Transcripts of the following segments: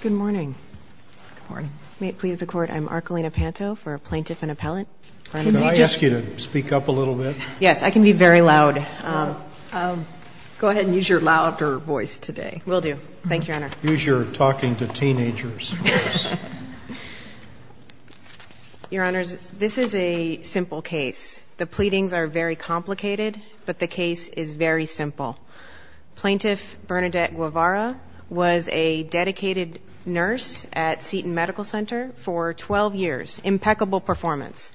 Good morning. May it please the court, I'm Archelina Panto for a plaintiff and appellant. Can I ask you to speak up a little bit? Yes, I can be very loud. Go ahead and use your louder voice today. Will do. Thank you, Your Honor. Use your talking to teenagers voice. Your Honors, this is a simple case. The pleadings are very complicated, but the case is very simple. Plaintiff Bernadette Guevara was a dedicated nurse at Seton Medical Center for 12 years. Impeccable performance.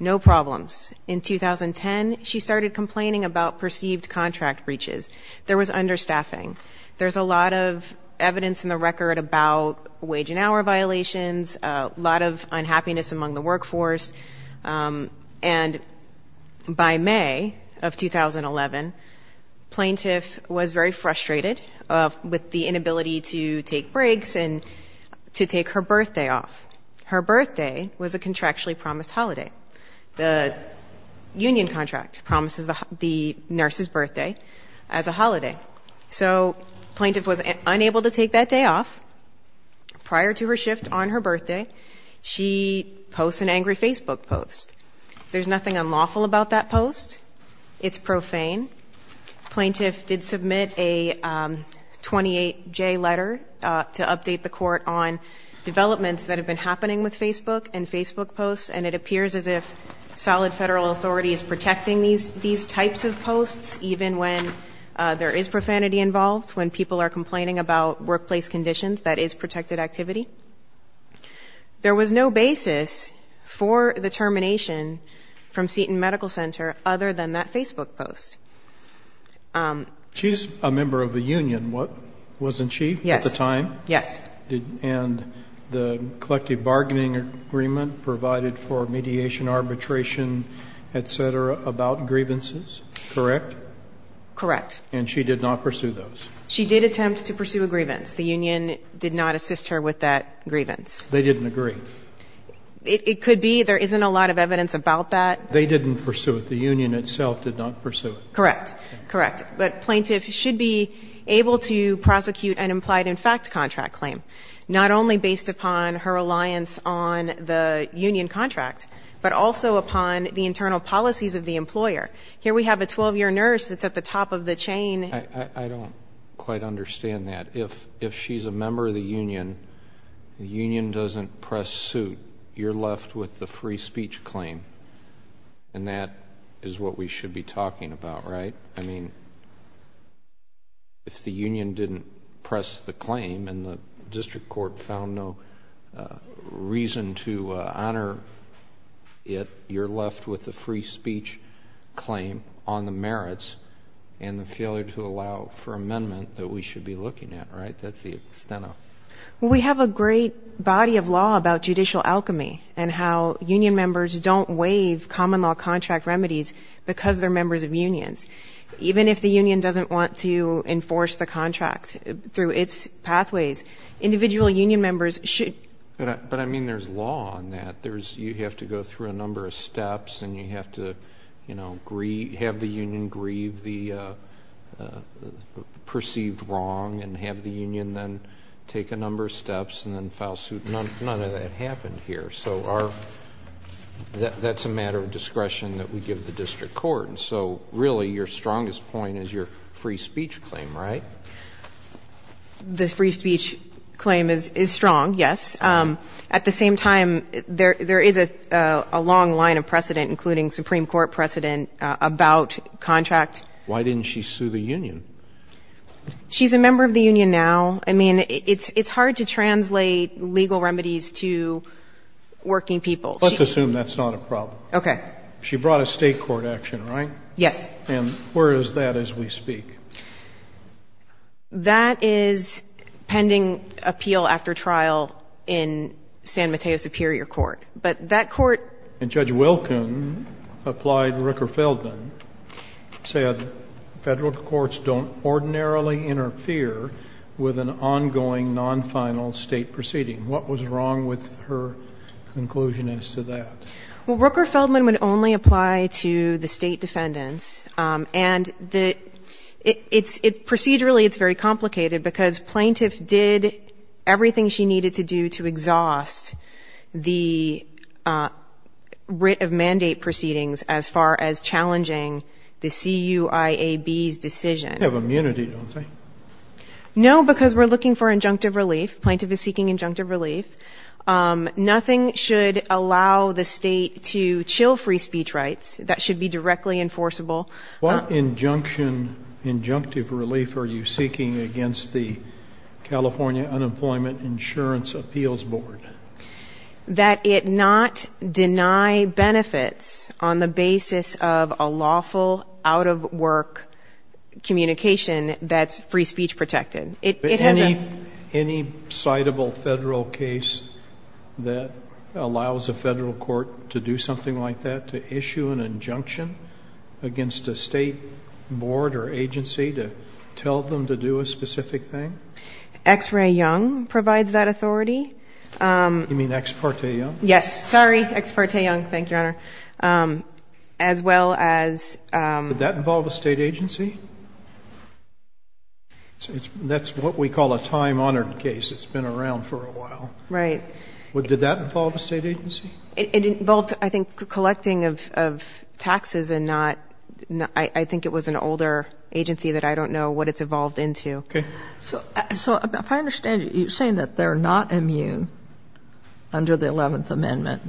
No problems. In 2010, she started complaining about perceived contract breaches. There was understaffing. There's a lot of evidence in the record about wage and hour violations, a lot of unhappiness among the workforce. And by May of 2011, plaintiff was very frustrated with the inability to take breaks and to take her birthday off. Her birthday was a contractually promised holiday. The union contract promises the nurse's birthday as a holiday. So plaintiff was unable to take that day off. Prior to her shift on her birthday, she posts an angry post. It's profane. Plaintiff did submit a 28-J letter to update the court on developments that have been happening with Facebook and Facebook posts, and it appears as if solid federal authority is protecting these types of posts, even when there is profanity involved, when people are complaining about workplace conditions, that is protected activity. There was no basis for the termination from Seton Medical Center other than that Facebook post. She's a member of the union, wasn't she at the time? Yes. And the collective bargaining agreement provided for mediation, arbitration, et cetera, about grievances, correct? Correct. And she did not pursue those? She did attempt to pursue a grievance. The union did not assist her with that grievance. They didn't agree? It could be. There isn't a lot of evidence about that. They didn't pursue it. The union itself did not pursue it. Correct. Correct. But plaintiff should be able to prosecute an implied in fact contract claim, not only based upon her reliance on the union contract, but also upon the internal policies of the employer. Here we have a 12-year nurse that's at the top of the chain. I don't quite understand that. If she's a member of the union, the union doesn't press suit. You're left with the free speech claim. And that is what we should be talking about, right? I mean, if the union didn't press the claim and the district court found no reason to honor it, you're left with the free speech claim on the merits and the failure to allow for amendment that we should be looking at, right? That's the extent of it. We have a great body of law about judicial alchemy and how union members don't waive common law contract remedies because they're members of unions. Even if the union doesn't want to enforce the contract through its pathways, individual union members should. But I mean there's law on that. You have to go through a number of steps and you have to, you know, grieve the perceived wrong and have the union then take a number of steps and then file suit. None of that happened here. So that's a matter of discretion that we give the district court. And so really your strongest point is your free speech claim, right? The free speech claim is strong, yes. At the same time, there is a long line of precedent, including Supreme Court precedent, about contract. Why didn't she sue the union? She's a member of the union now. I mean, it's hard to translate legal remedies to working people. Let's assume that's not a problem. Okay. She brought a state court action, right? Yes. And where is that as we speak? That is pending appeal after trial in San Mateo Superior Court. But that court And Judge Wilken applied Rooker-Feldman, said Federal courts don't ordinarily interfere with an ongoing non-final State proceeding. What was wrong with her conclusion as to that? Well, Rooker-Feldman would only apply to the State defendants. And the — it's — procedurally it's very complicated because plaintiff did everything she needed to do to exhaust the writ of mandate proceedings as far as challenging the CUIAB's decision. You have immunity, don't you? No, because we're looking for injunctive relief. Plaintiff is seeking injunctive relief. Nothing should allow the State to chill free speech rights. That should be directly enforceable. What injunction — injunctive relief are you seeking against the California Unemployment Insurance Appeals Board? That it not deny benefits on the basis of a lawful, out-of-work communication that's free speech protected. It has a — Any citable Federal case that allows a Federal court to do something like that, to issue an injunction against a State board or agency to tell them to do a specific thing? X. Ray Young provides that authority. You mean Ex Parte Young? Yes. Sorry. Ex Parte Young. Thank you, Your Honor. As well as — Did that involve a State agency? That's what we call a time-honored case. It's been around for a while. Right. Did that involve a State agency? It involved, I think, collecting of taxes and not — I think it was an older agency that I don't know what it's evolved into. So, if I understand it, you're saying that they're not immune under the 11th Amendment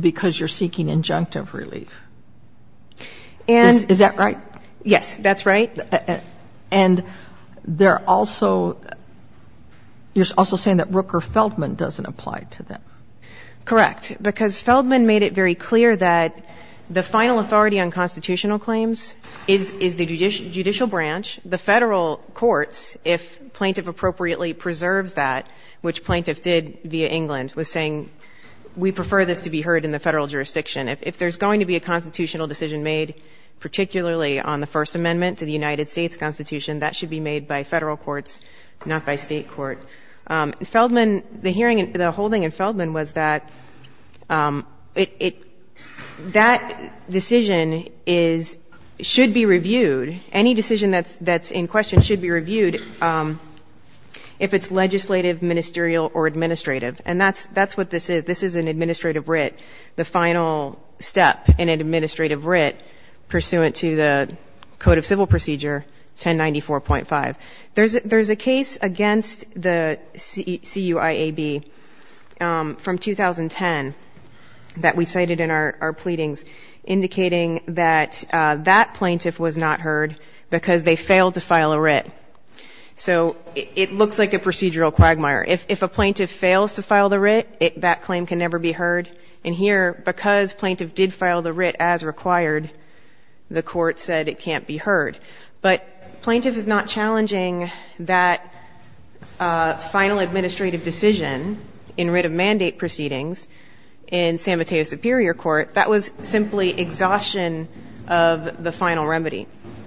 because you're seeking injunctive relief. Is that right? Yes, that's right. And they're also — you're also saying that Rooker-Feldman doesn't apply to them. Correct. Because Feldman made it very clear that the final authority on constitutional courts, if plaintiff appropriately preserves that, which plaintiff did via England, was saying, we prefer this to be heard in the Federal jurisdiction. If there's going to be a constitutional decision made, particularly on the First Amendment to the United States Constitution, that should be made by Federal courts, not by State court. Feldman — the hearing — the holding in Feldman was that it — that decision is — should be reviewed. Any decision that's in question should be reviewed if it's legislative, ministerial, or administrative. And that's — that's what this is. This is an administrative writ, the final step in an administrative writ pursuant to the Code of Civil Procedure 1094.5. There's a case against the CUIAB from 2010 that we cited in our pleadings indicating that that plaintiff was not heard because they failed to file a writ. So it looks like a procedural quagmire. If a plaintiff fails to file the writ, that claim can never be heard. And here, because plaintiff did file the writ as required, the Court said it can't be heard. But plaintiff is not challenging that final administrative decision in writ of mandate proceedings in San Mateo Superior Court. That was simply exhaustion of the final remedy.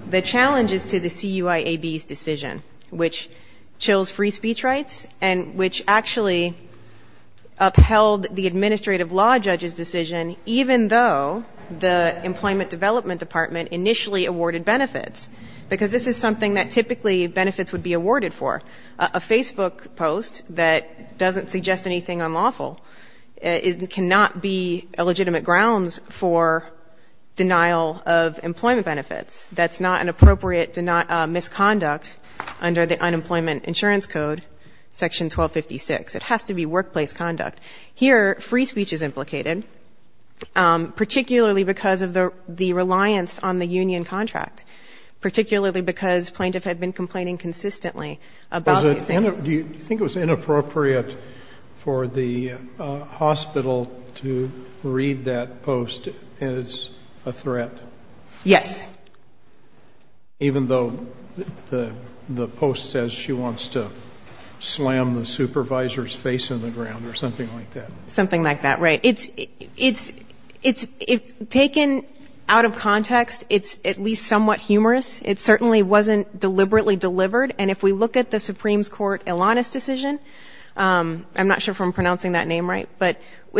The challenge is to the CUIAB's decision, which chills free speech rights and which actually upheld the administrative law judge's decision, even though the Employment Development Department initially awarded benefits, because this is something that typically benefits would be awarded for. A Facebook post that doesn't suggest anything unlawful cannot be a legitimate grounds for denial of employment benefits. That's not an appropriate misconduct under the Unemployment Insurance Code, Section 1256. It has to be workplace conduct. Here free speech is implicated, particularly because of the reliance on the union contract, particularly because plaintiff had been complaining consistently about these things. Do you think it was inappropriate for the hospital to read that post as a threat? Yes. Even though the post says she wants to slam the supervisor's face in the ground or something like that? Something like that, right. Taken out of context, it's at least somewhat humorous. It certainly wasn't deliberately delivered. And if we look at the Supreme Court's Alanis decision,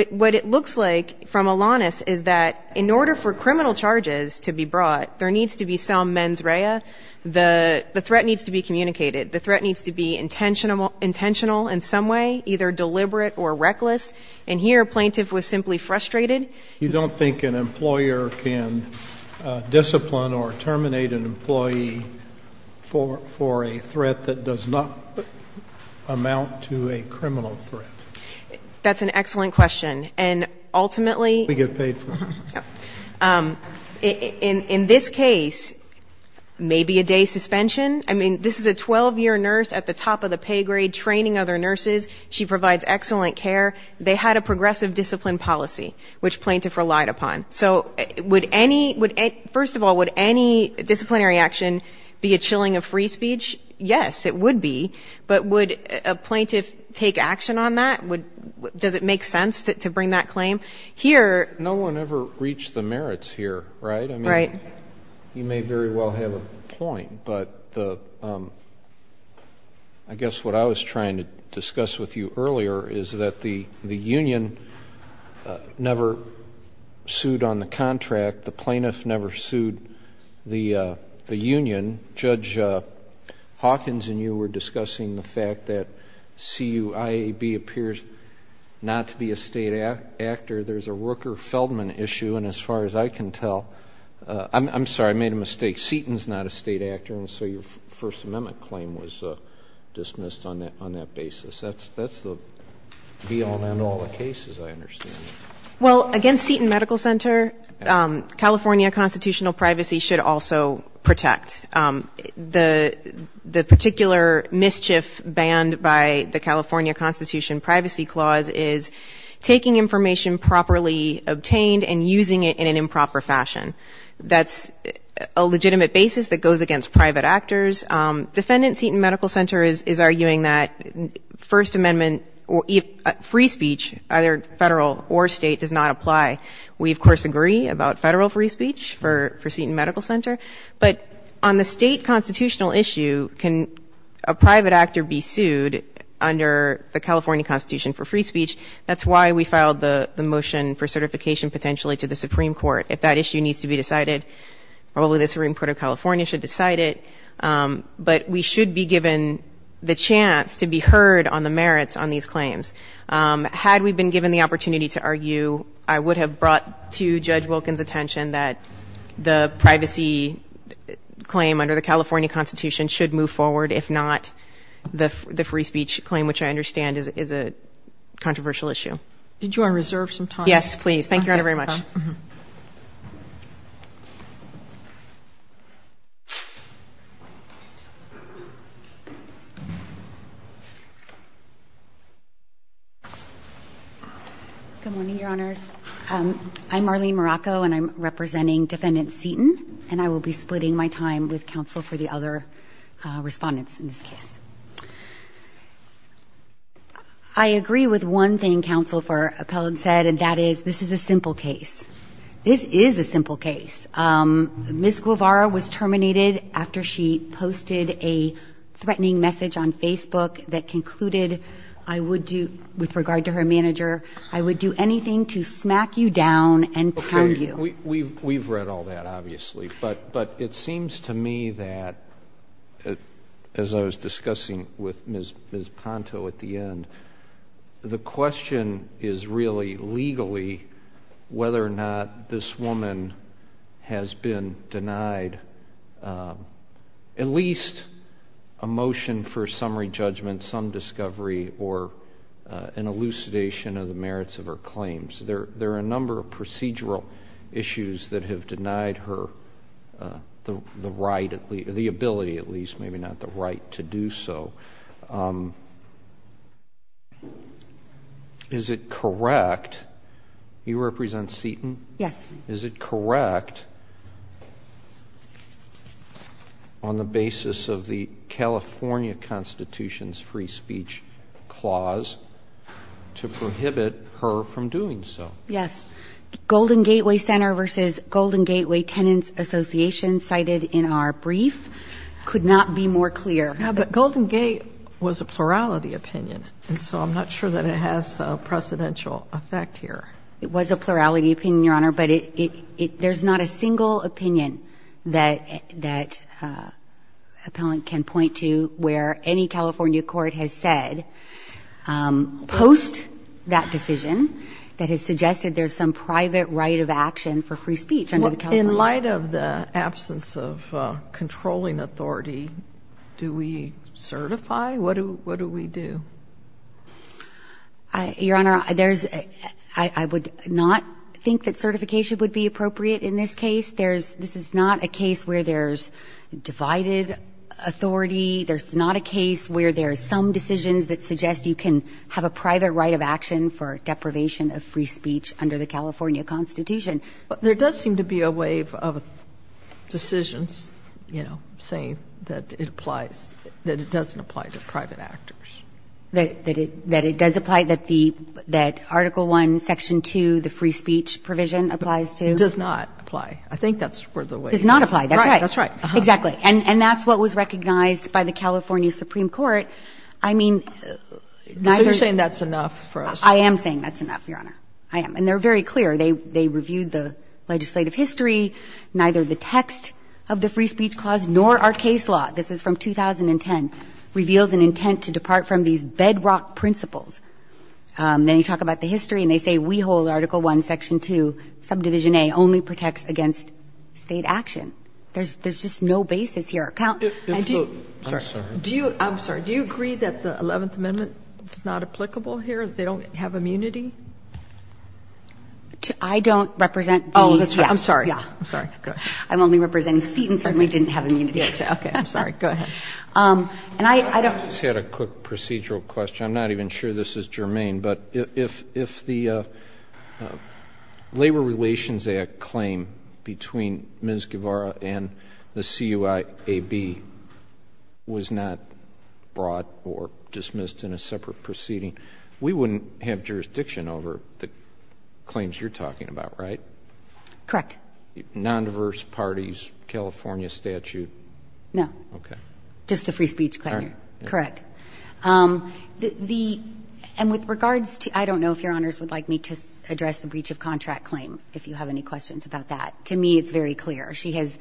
what it looks like from Alanis is that in order for criminal charges to be brought, there needs to be some mens rea. The threat needs to be communicated. The threat needs to be communicated. And here, plaintiff was simply frustrated. You don't think an employer can discipline or terminate an employee for a threat that does not amount to a criminal threat? That's an excellent question. And ultimately, in this case, maybe a day suspension. I mean, this is a 12-year nurse at the top of the pay grade training other nurses. She provides excellent care. They had a progressive discipline policy, which plaintiff relied upon. So, first of all, would any disciplinary action be a chilling of free speech? Yes, it would be. But would a plaintiff take action on that? Does it make sense to bring that claim? No one ever reached the merits here, right? I mean, you may very well have a point. But I guess what I was trying to discuss with you earlier is that the union never sued on the contract. The plaintiff never sued the union. Judge Hawkins and you were discussing the fact that CUIAB appears not to be a state actor. There's a Rooker-Feldman issue. And as far as I can tell, I'm sorry, I made a mistake. Seton's not a state actor. And so your First Amendment claim was dismissed on that basis. That's beyond all the cases I understand. Well, against Seton Medical Center, California constitutional privacy should also protect. The particular mischief banned by the California Constitution privacy clause is taking information improperly obtained and using it in an improper fashion. That's a legitimate basis that goes against private actors. Defendant Seton Medical Center is arguing that First Amendment free speech, either federal or state, does not apply. We, of course, agree about federal free speech for Seton Medical Center. But on the state constitutional issue, can a private actor be sued under the California Constitution for free speech? That's why we filed the motion for certification potentially to the Supreme Court. If that issue needs to be decided, probably the Supreme Court of California should decide it. But we should be given the chance to be heard on the merits on these claims. Had we been given the opportunity to argue, I would have brought to Judge Wilkins' attention that the privacy claim under the California Constitution should move forward, if not the free speech claim, which I understand is a controversial issue. Did you want to reserve some time? Yes, please. Thank you very much. Good morning, Your Honors. I'm Marlene Morocco, and I'm representing Defendant Seton, and I will be for Appellant Seton, and that is, this is a simple case. This is a simple case. Ms. Guevara was terminated after she posted a threatening message on Facebook that concluded, I would do, with regard to her manager, I would do anything to smack you down and pound you. We've read all that, obviously, but it seems to me that, as I was discussing with Ms. Ponto at the end, the question is really, legally, whether or not this woman has been denied at least a motion for summary judgment, some discovery, or an elucidation of the merits of her claims. There are a number of procedural issues that have denied her the right, the right to be heard. Is it correct, you represent Seton? Yes. Is it correct, on the basis of the California Constitution's free speech clause, to prohibit her from doing so? Yes. Golden Gateway Center versus Golden Gateway Tenants Association, cited in our brief, could not be more clear. Yeah, but Golden Gateway was a plurality opinion, and so I'm not sure that it has a precedential effect here. It was a plurality opinion, Your Honor, but there's not a single opinion that Appellant can point to where any California court has said, post that decision, that has suggested there's some private right of action for free speech under the California Constitution. Well, in light of the absence of controlling authority, do we certify? What do we do? Your Honor, I would not think that certification would be appropriate in this case. This is not a case where there's divided authority. There's not a case where there's some decisions that suggest you can have a private right of action for deprivation of free speech under the California Constitution. But there does seem to be a wave of decisions, you know, saying that it applies – that it doesn't apply to private actors. That it does apply, that the – that Article I, Section 2, the free speech provision applies to? It does not apply. I think that's where the wave is. It does not apply. That's right. That's right. Exactly. And that's what was recognized by the California Supreme Court. I mean, neither – So you're saying that's enough for us? I am saying that's enough, Your Honor. I am. And they're saying that neither the legislative history, neither the text of the free speech clause, nor our case law – this is from 2010 – reveals an intent to depart from these bedrock principles. Then you talk about the history, and they say we hold Article I, Section 2, Subdivision A, only protects against state action. There's just no basis here. I'm sorry. Do you – I'm sorry. Do you agree that the Eleventh Amendment is not of immunity? I don't represent the – Oh, that's right. I'm sorry. Yeah. I'm sorry. Go ahead. I'm only representing Seton certainly didn't have immunity. Okay. I'm sorry. Go ahead. And I don't – I just had a quick procedural question. I'm not even sure this is germane. But if the Labor Relations Act claim between Ms. Guevara and the CUIAB was not brought or dismissed in a separate proceeding, we wouldn't have jurisdiction over the claims you're talking about, right? Correct. Nondiverse parties, California statute? No. Okay. Just the free speech claim. Correct. Correct. The – and with regards to – I don't know if Your Honors would like me to address the breach of contract claim, if you have any questions about that. To me, it's very clear. She has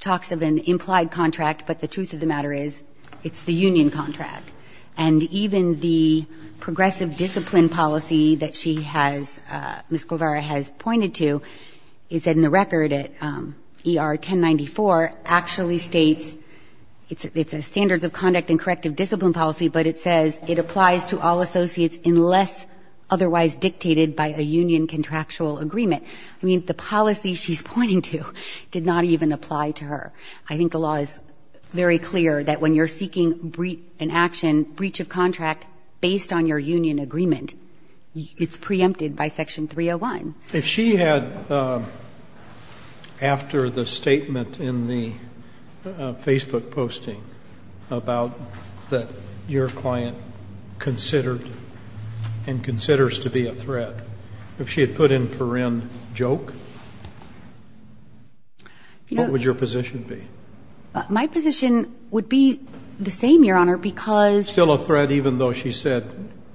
talks of an implied contract, but the truth of the matter is it's the union contract. And even the progressive discipline policy that she has – Ms. Guevara has pointed to, it's in the record at ER 1094, actually states – it's a standards of conduct and corrective discipline policy, but it says it applies to all associates unless otherwise dictated by a union contractual agreement. I mean, the policy she's pointing to did not even apply to her. I think the law is very clear that when you're seeking an action, breach of contract based on your union agreement, it's preempted by Section 301. If she had – after the statement in the Facebook posting about that your client considered and considers to be a threat, if she had put in for in joke, what would your position be? My position would be the same, Your Honor, because – Still a threat even though she said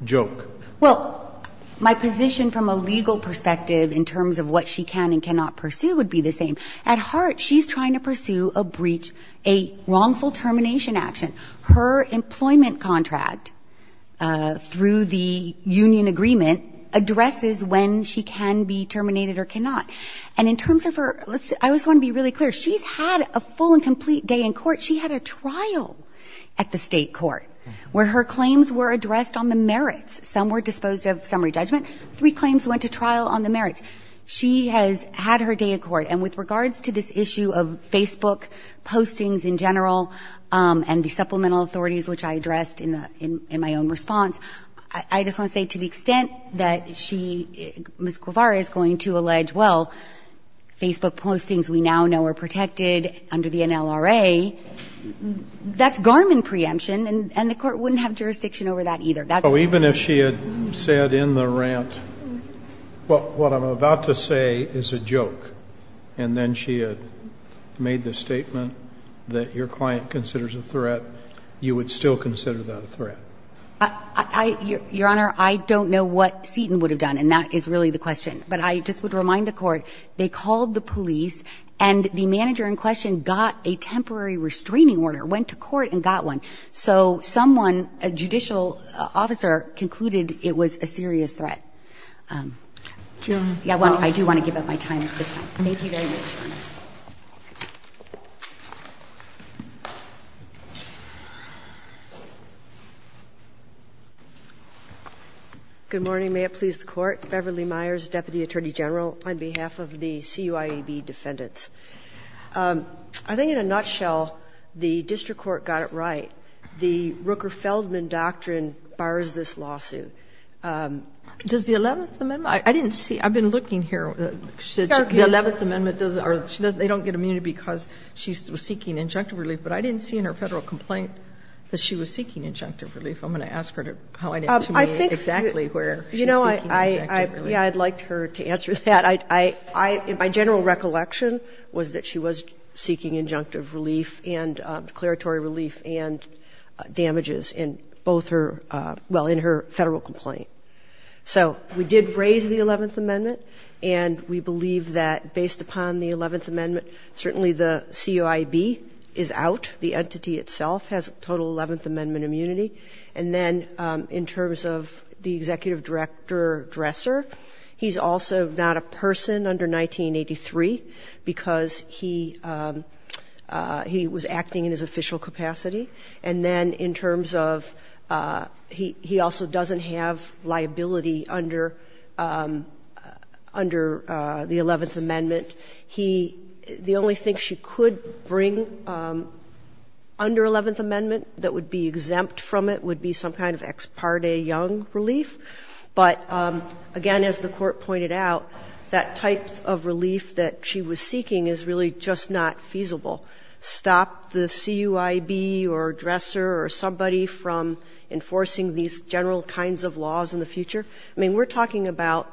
joke. Well, my position from a legal perspective in terms of what she can and cannot pursue would be the same. At heart, she's trying to pursue a breach, a wrongful termination action. Her employment contract through the union agreement addresses when she can be terminated or cannot. And in terms of her – I just want to be really clear. She's had a full and complete day in court. She had a trial at the state court where her claims were addressed on the merits. Some were disposed of summary judgment. Three claims went to trial on the merits. She has had her day in court. And with regards to this issue of Facebook postings in general and the supplemental authorities, which I addressed in my own response, I just want to say to the extent that she – Ms. Guevara is going to allege, well, Facebook postings we now know are protected under the NLRA, that's Garmin preemption, and the court wouldn't have jurisdiction over that either. So even if she had said in the rant, what I'm about to say is a joke, and then she had made the statement that your client considers a threat, you would still consider that a threat? Your Honor, I don't know what Seton would have done, and that is really the question. But I just would remind the Court, they called the police, and the manager in question got a temporary restraining order, went to court and got one. So someone, a judicial officer, concluded it was a serious threat. Well, I do want to give up my time at this time. Thank you very much, Your Honor. Good morning. May it please the Court. Beverly Myers, Deputy Attorney General, on behalf of the CUIEB Defendants. I think in a nutshell, the district court got it right. The Rooker-Feldman doctrine bars this lawsuit. Does the Eleventh Amendment – I didn't see – I've been looking here. The Eleventh Amendment doesn't – they don't get immunity because she was seeking injunctive relief, but I didn't see in her Federal complaint that she was seeking injunctive relief. I'm going to ask her to point it to me exactly where she's seeking injunctive relief. Yeah, I'd like her to answer that. My general recollection was that she was seeking injunctive relief and declaratory relief and damages in both her – well, in her And we believe that based upon the Eleventh Amendment, certainly the CUIEB is out. The entity itself has a total Eleventh Amendment immunity. And then in terms of the executive director, Dresser, he's also not a person under 1983 because he was acting in his official capacity. And then in terms of – he also doesn't have liability under the Eleventh Amendment. He – the only thing she could bring under Eleventh Amendment that would be exempt from it would be some kind of ex parte young relief. But, again, as the Court pointed out, that type of relief that she was seeking is really just not feasible. Stop the CUIEB or Dresser or somebody from enforcing these general kinds of laws in the future. I mean, we're talking about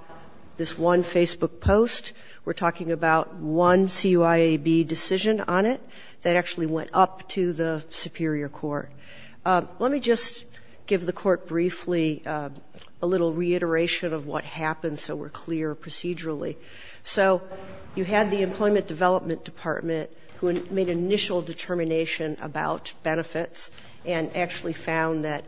this one Facebook post. We're talking about one CUIEB decision on it that actually went up to the Superior Court. Let me just give the Court briefly a little reiteration of what happened so we're clear procedurally. So you had the Employment Development Department, who made an initial determination about benefits and actually found that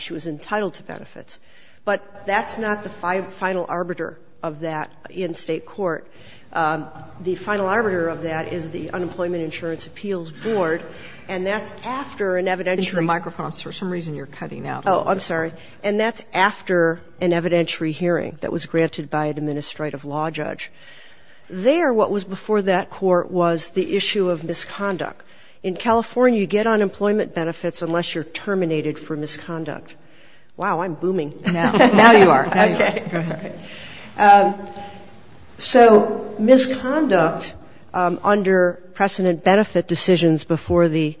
she was entitled to benefits. But that's not the final arbiter of that in State court. The final arbiter of that is the Unemployment Insurance Appeals Board, and that's after an evidentiary – In the microphone. For some reason, you're cutting out. Oh, I'm sorry. And that's after an evidentiary hearing that was granted by an Administrative Law Judge. There what was before that court was the issue of misconduct. In California you get unemployment benefits unless you're terminated for misconduct. Wow, I'm booming. Now you are. Okay. So misconduct under precedent benefit decisions before the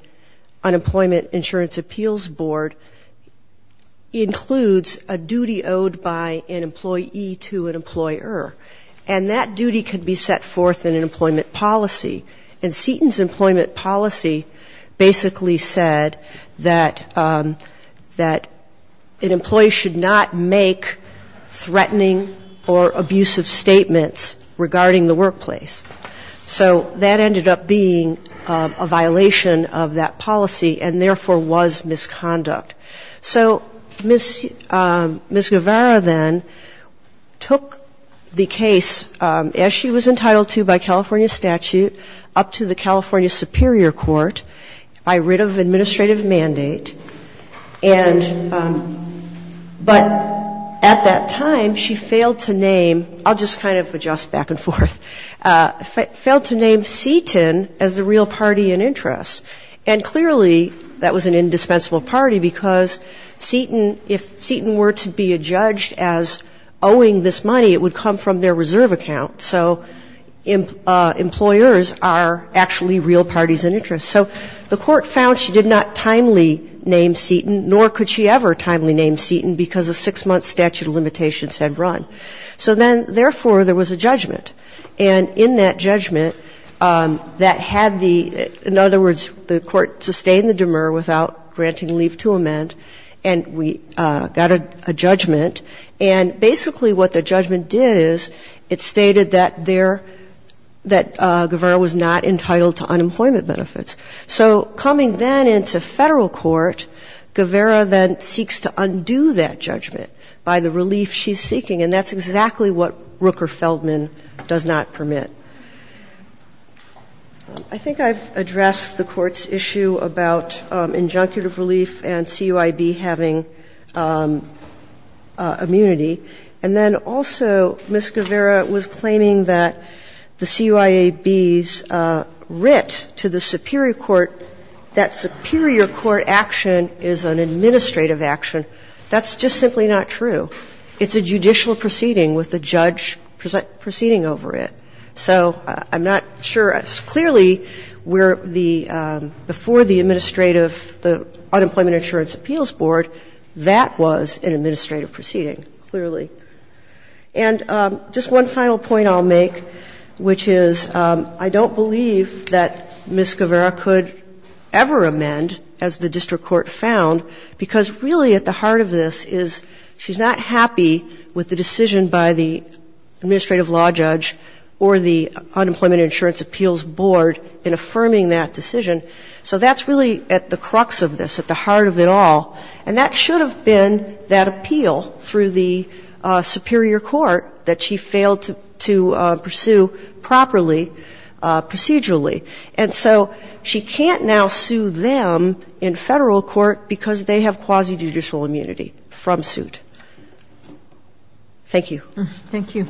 Unemployment Insurance Appeals Board includes a duty owed by an employee to an employer. And that duty can be set forth in an employment policy. And Seton's employment policy basically said that an employee should not make threatening or abusive statements regarding the workplace. So that ended up being a violation of that policy and therefore was misconduct. So Ms. Guevara then took the case, as she was entitled to by California statute, up to the California Superior Court by writ of administrative mandate. And but at that time she – I'll just kind of adjust back and forth – failed to name Seton as the real party in interest. And clearly that was an indispensable party because Seton, if Seton were to be adjudged as owing this money, it would come from their reserve account. So employers are actually real parties in interest. So the court found she did not timely name Seton, nor could she ever timely name Seton because a six-month statute of limitations was in place. And therefore, there was a judgment. And in that judgment, that had the – in other words, the court sustained the demur without granting leave to amend, and we got a judgment. And basically what the judgment did is it stated that there – that Guevara was not entitled to unemployment benefits. So coming then into Federal court, Guevara then seeks to undo that judgment by the relief she's seeking. And that's exactly what Rooker-Feldman does not permit. I think I've addressed the Court's issue about injunctive relief and CUIB having immunity. And then also Ms. Guevara was claiming that the CUIAB's writ to the superior court, that superior court action is an administrative action. That's just simply not true. It's a judicial proceeding with the judge proceeding over it. So I'm not sure. Clearly, where the – before the administrative – the Unemployment Insurance Appeals Board, that was an administrative proceeding, clearly. And just one final point I'll make, which is I don't believe that Ms. Guevara could ever amend, as the district court found, because really at the heart of this is she's not happy with the decision by the administrative law judge or the Unemployment Insurance Appeals Board in affirming that decision. So that's really at the crux of this, at the heart of it all. And that should have been that appeal through the superior court that she failed to pursue properly, procedurally. And so she can't now sue them in federal court because they have quasi-judicial immunity from suit. Thank you. Thank you.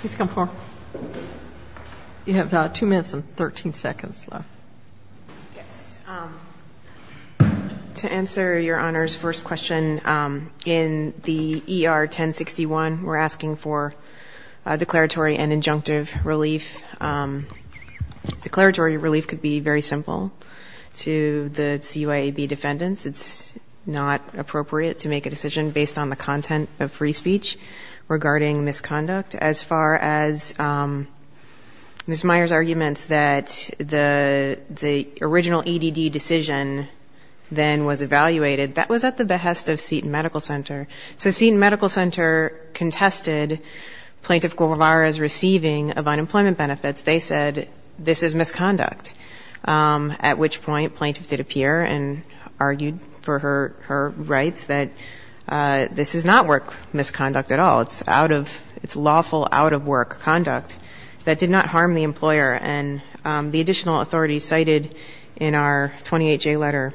Please come forward. You have two minutes and 13 seconds left. Yes. To answer Your Honor's first question, in the E.R. 1061, we're asking for declaratory and injunctive relief. Declaratory relief could be very simple to the CUIAB defendants. It's not appropriate to make a decision based on the content of free speech regarding misconduct. As far as Ms. Meyers' arguments that the – that the E.R. 1061 would be the original E.D.D. decision then was evaluated, that was at the behest of Seton Medical Center. So Seton Medical Center contested Plaintiff Guevara's receiving of unemployment benefits. They said this is misconduct, at which point plaintiff did appear and argued for her rights that this is not work misconduct at all. It's out of – it's lawful out-of-work conduct that did not harm the employer. And the additional authority cited in our 28-J letter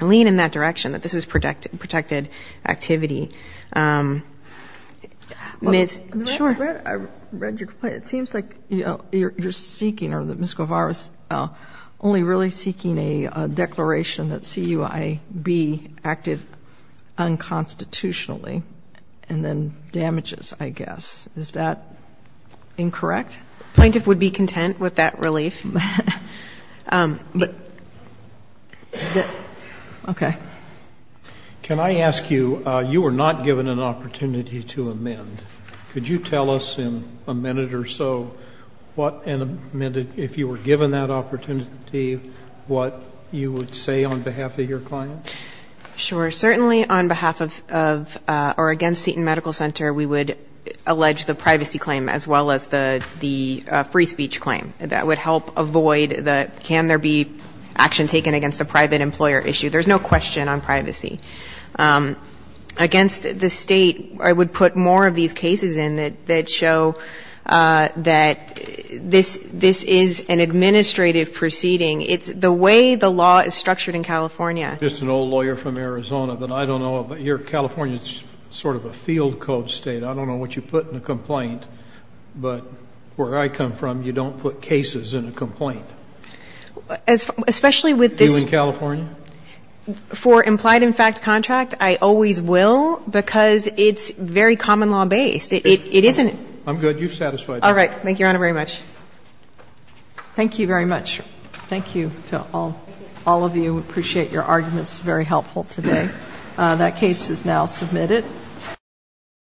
lean in that direction, that this is protected activity. Ms. Schor. I read your complaint. It seems like you're seeking or that Ms. Guevara's only really seeking a declaration that CUIAB acted unconstitutionally and then damages, I guess. Is that incorrect? Plaintiff would be content with that relief. Can I ask you, you were not given an opportunity to amend. Could you tell us in a minute or so what an amended – if you were given that opportunity, what you would say on behalf of your client? Sure. Certainly on behalf of – or against Seton Medical Center, we would allege the privacy claim as well as the free speech claim. That would help avoid the can there be action taken against a private employer issue. There's no question on privacy. Against the State, I would put more of these cases in that show that this is an administrative proceeding. It's the way the law is structured in California. Just an old lawyer from Arizona, but I don't know. Here, California is sort of a field code State. I don't know what you put in a complaint, but where I come from, you don't put cases in a complaint. Especially with this – Do you in California? For implied in fact contract, I always will, because it's very common law based. It isn't – I'm good. You've satisfied me. All right. Thank you, Your Honor, very much. Thank you very much. Thank you to all of you. Appreciate your arguments. Very helpful today. That case is now submitted.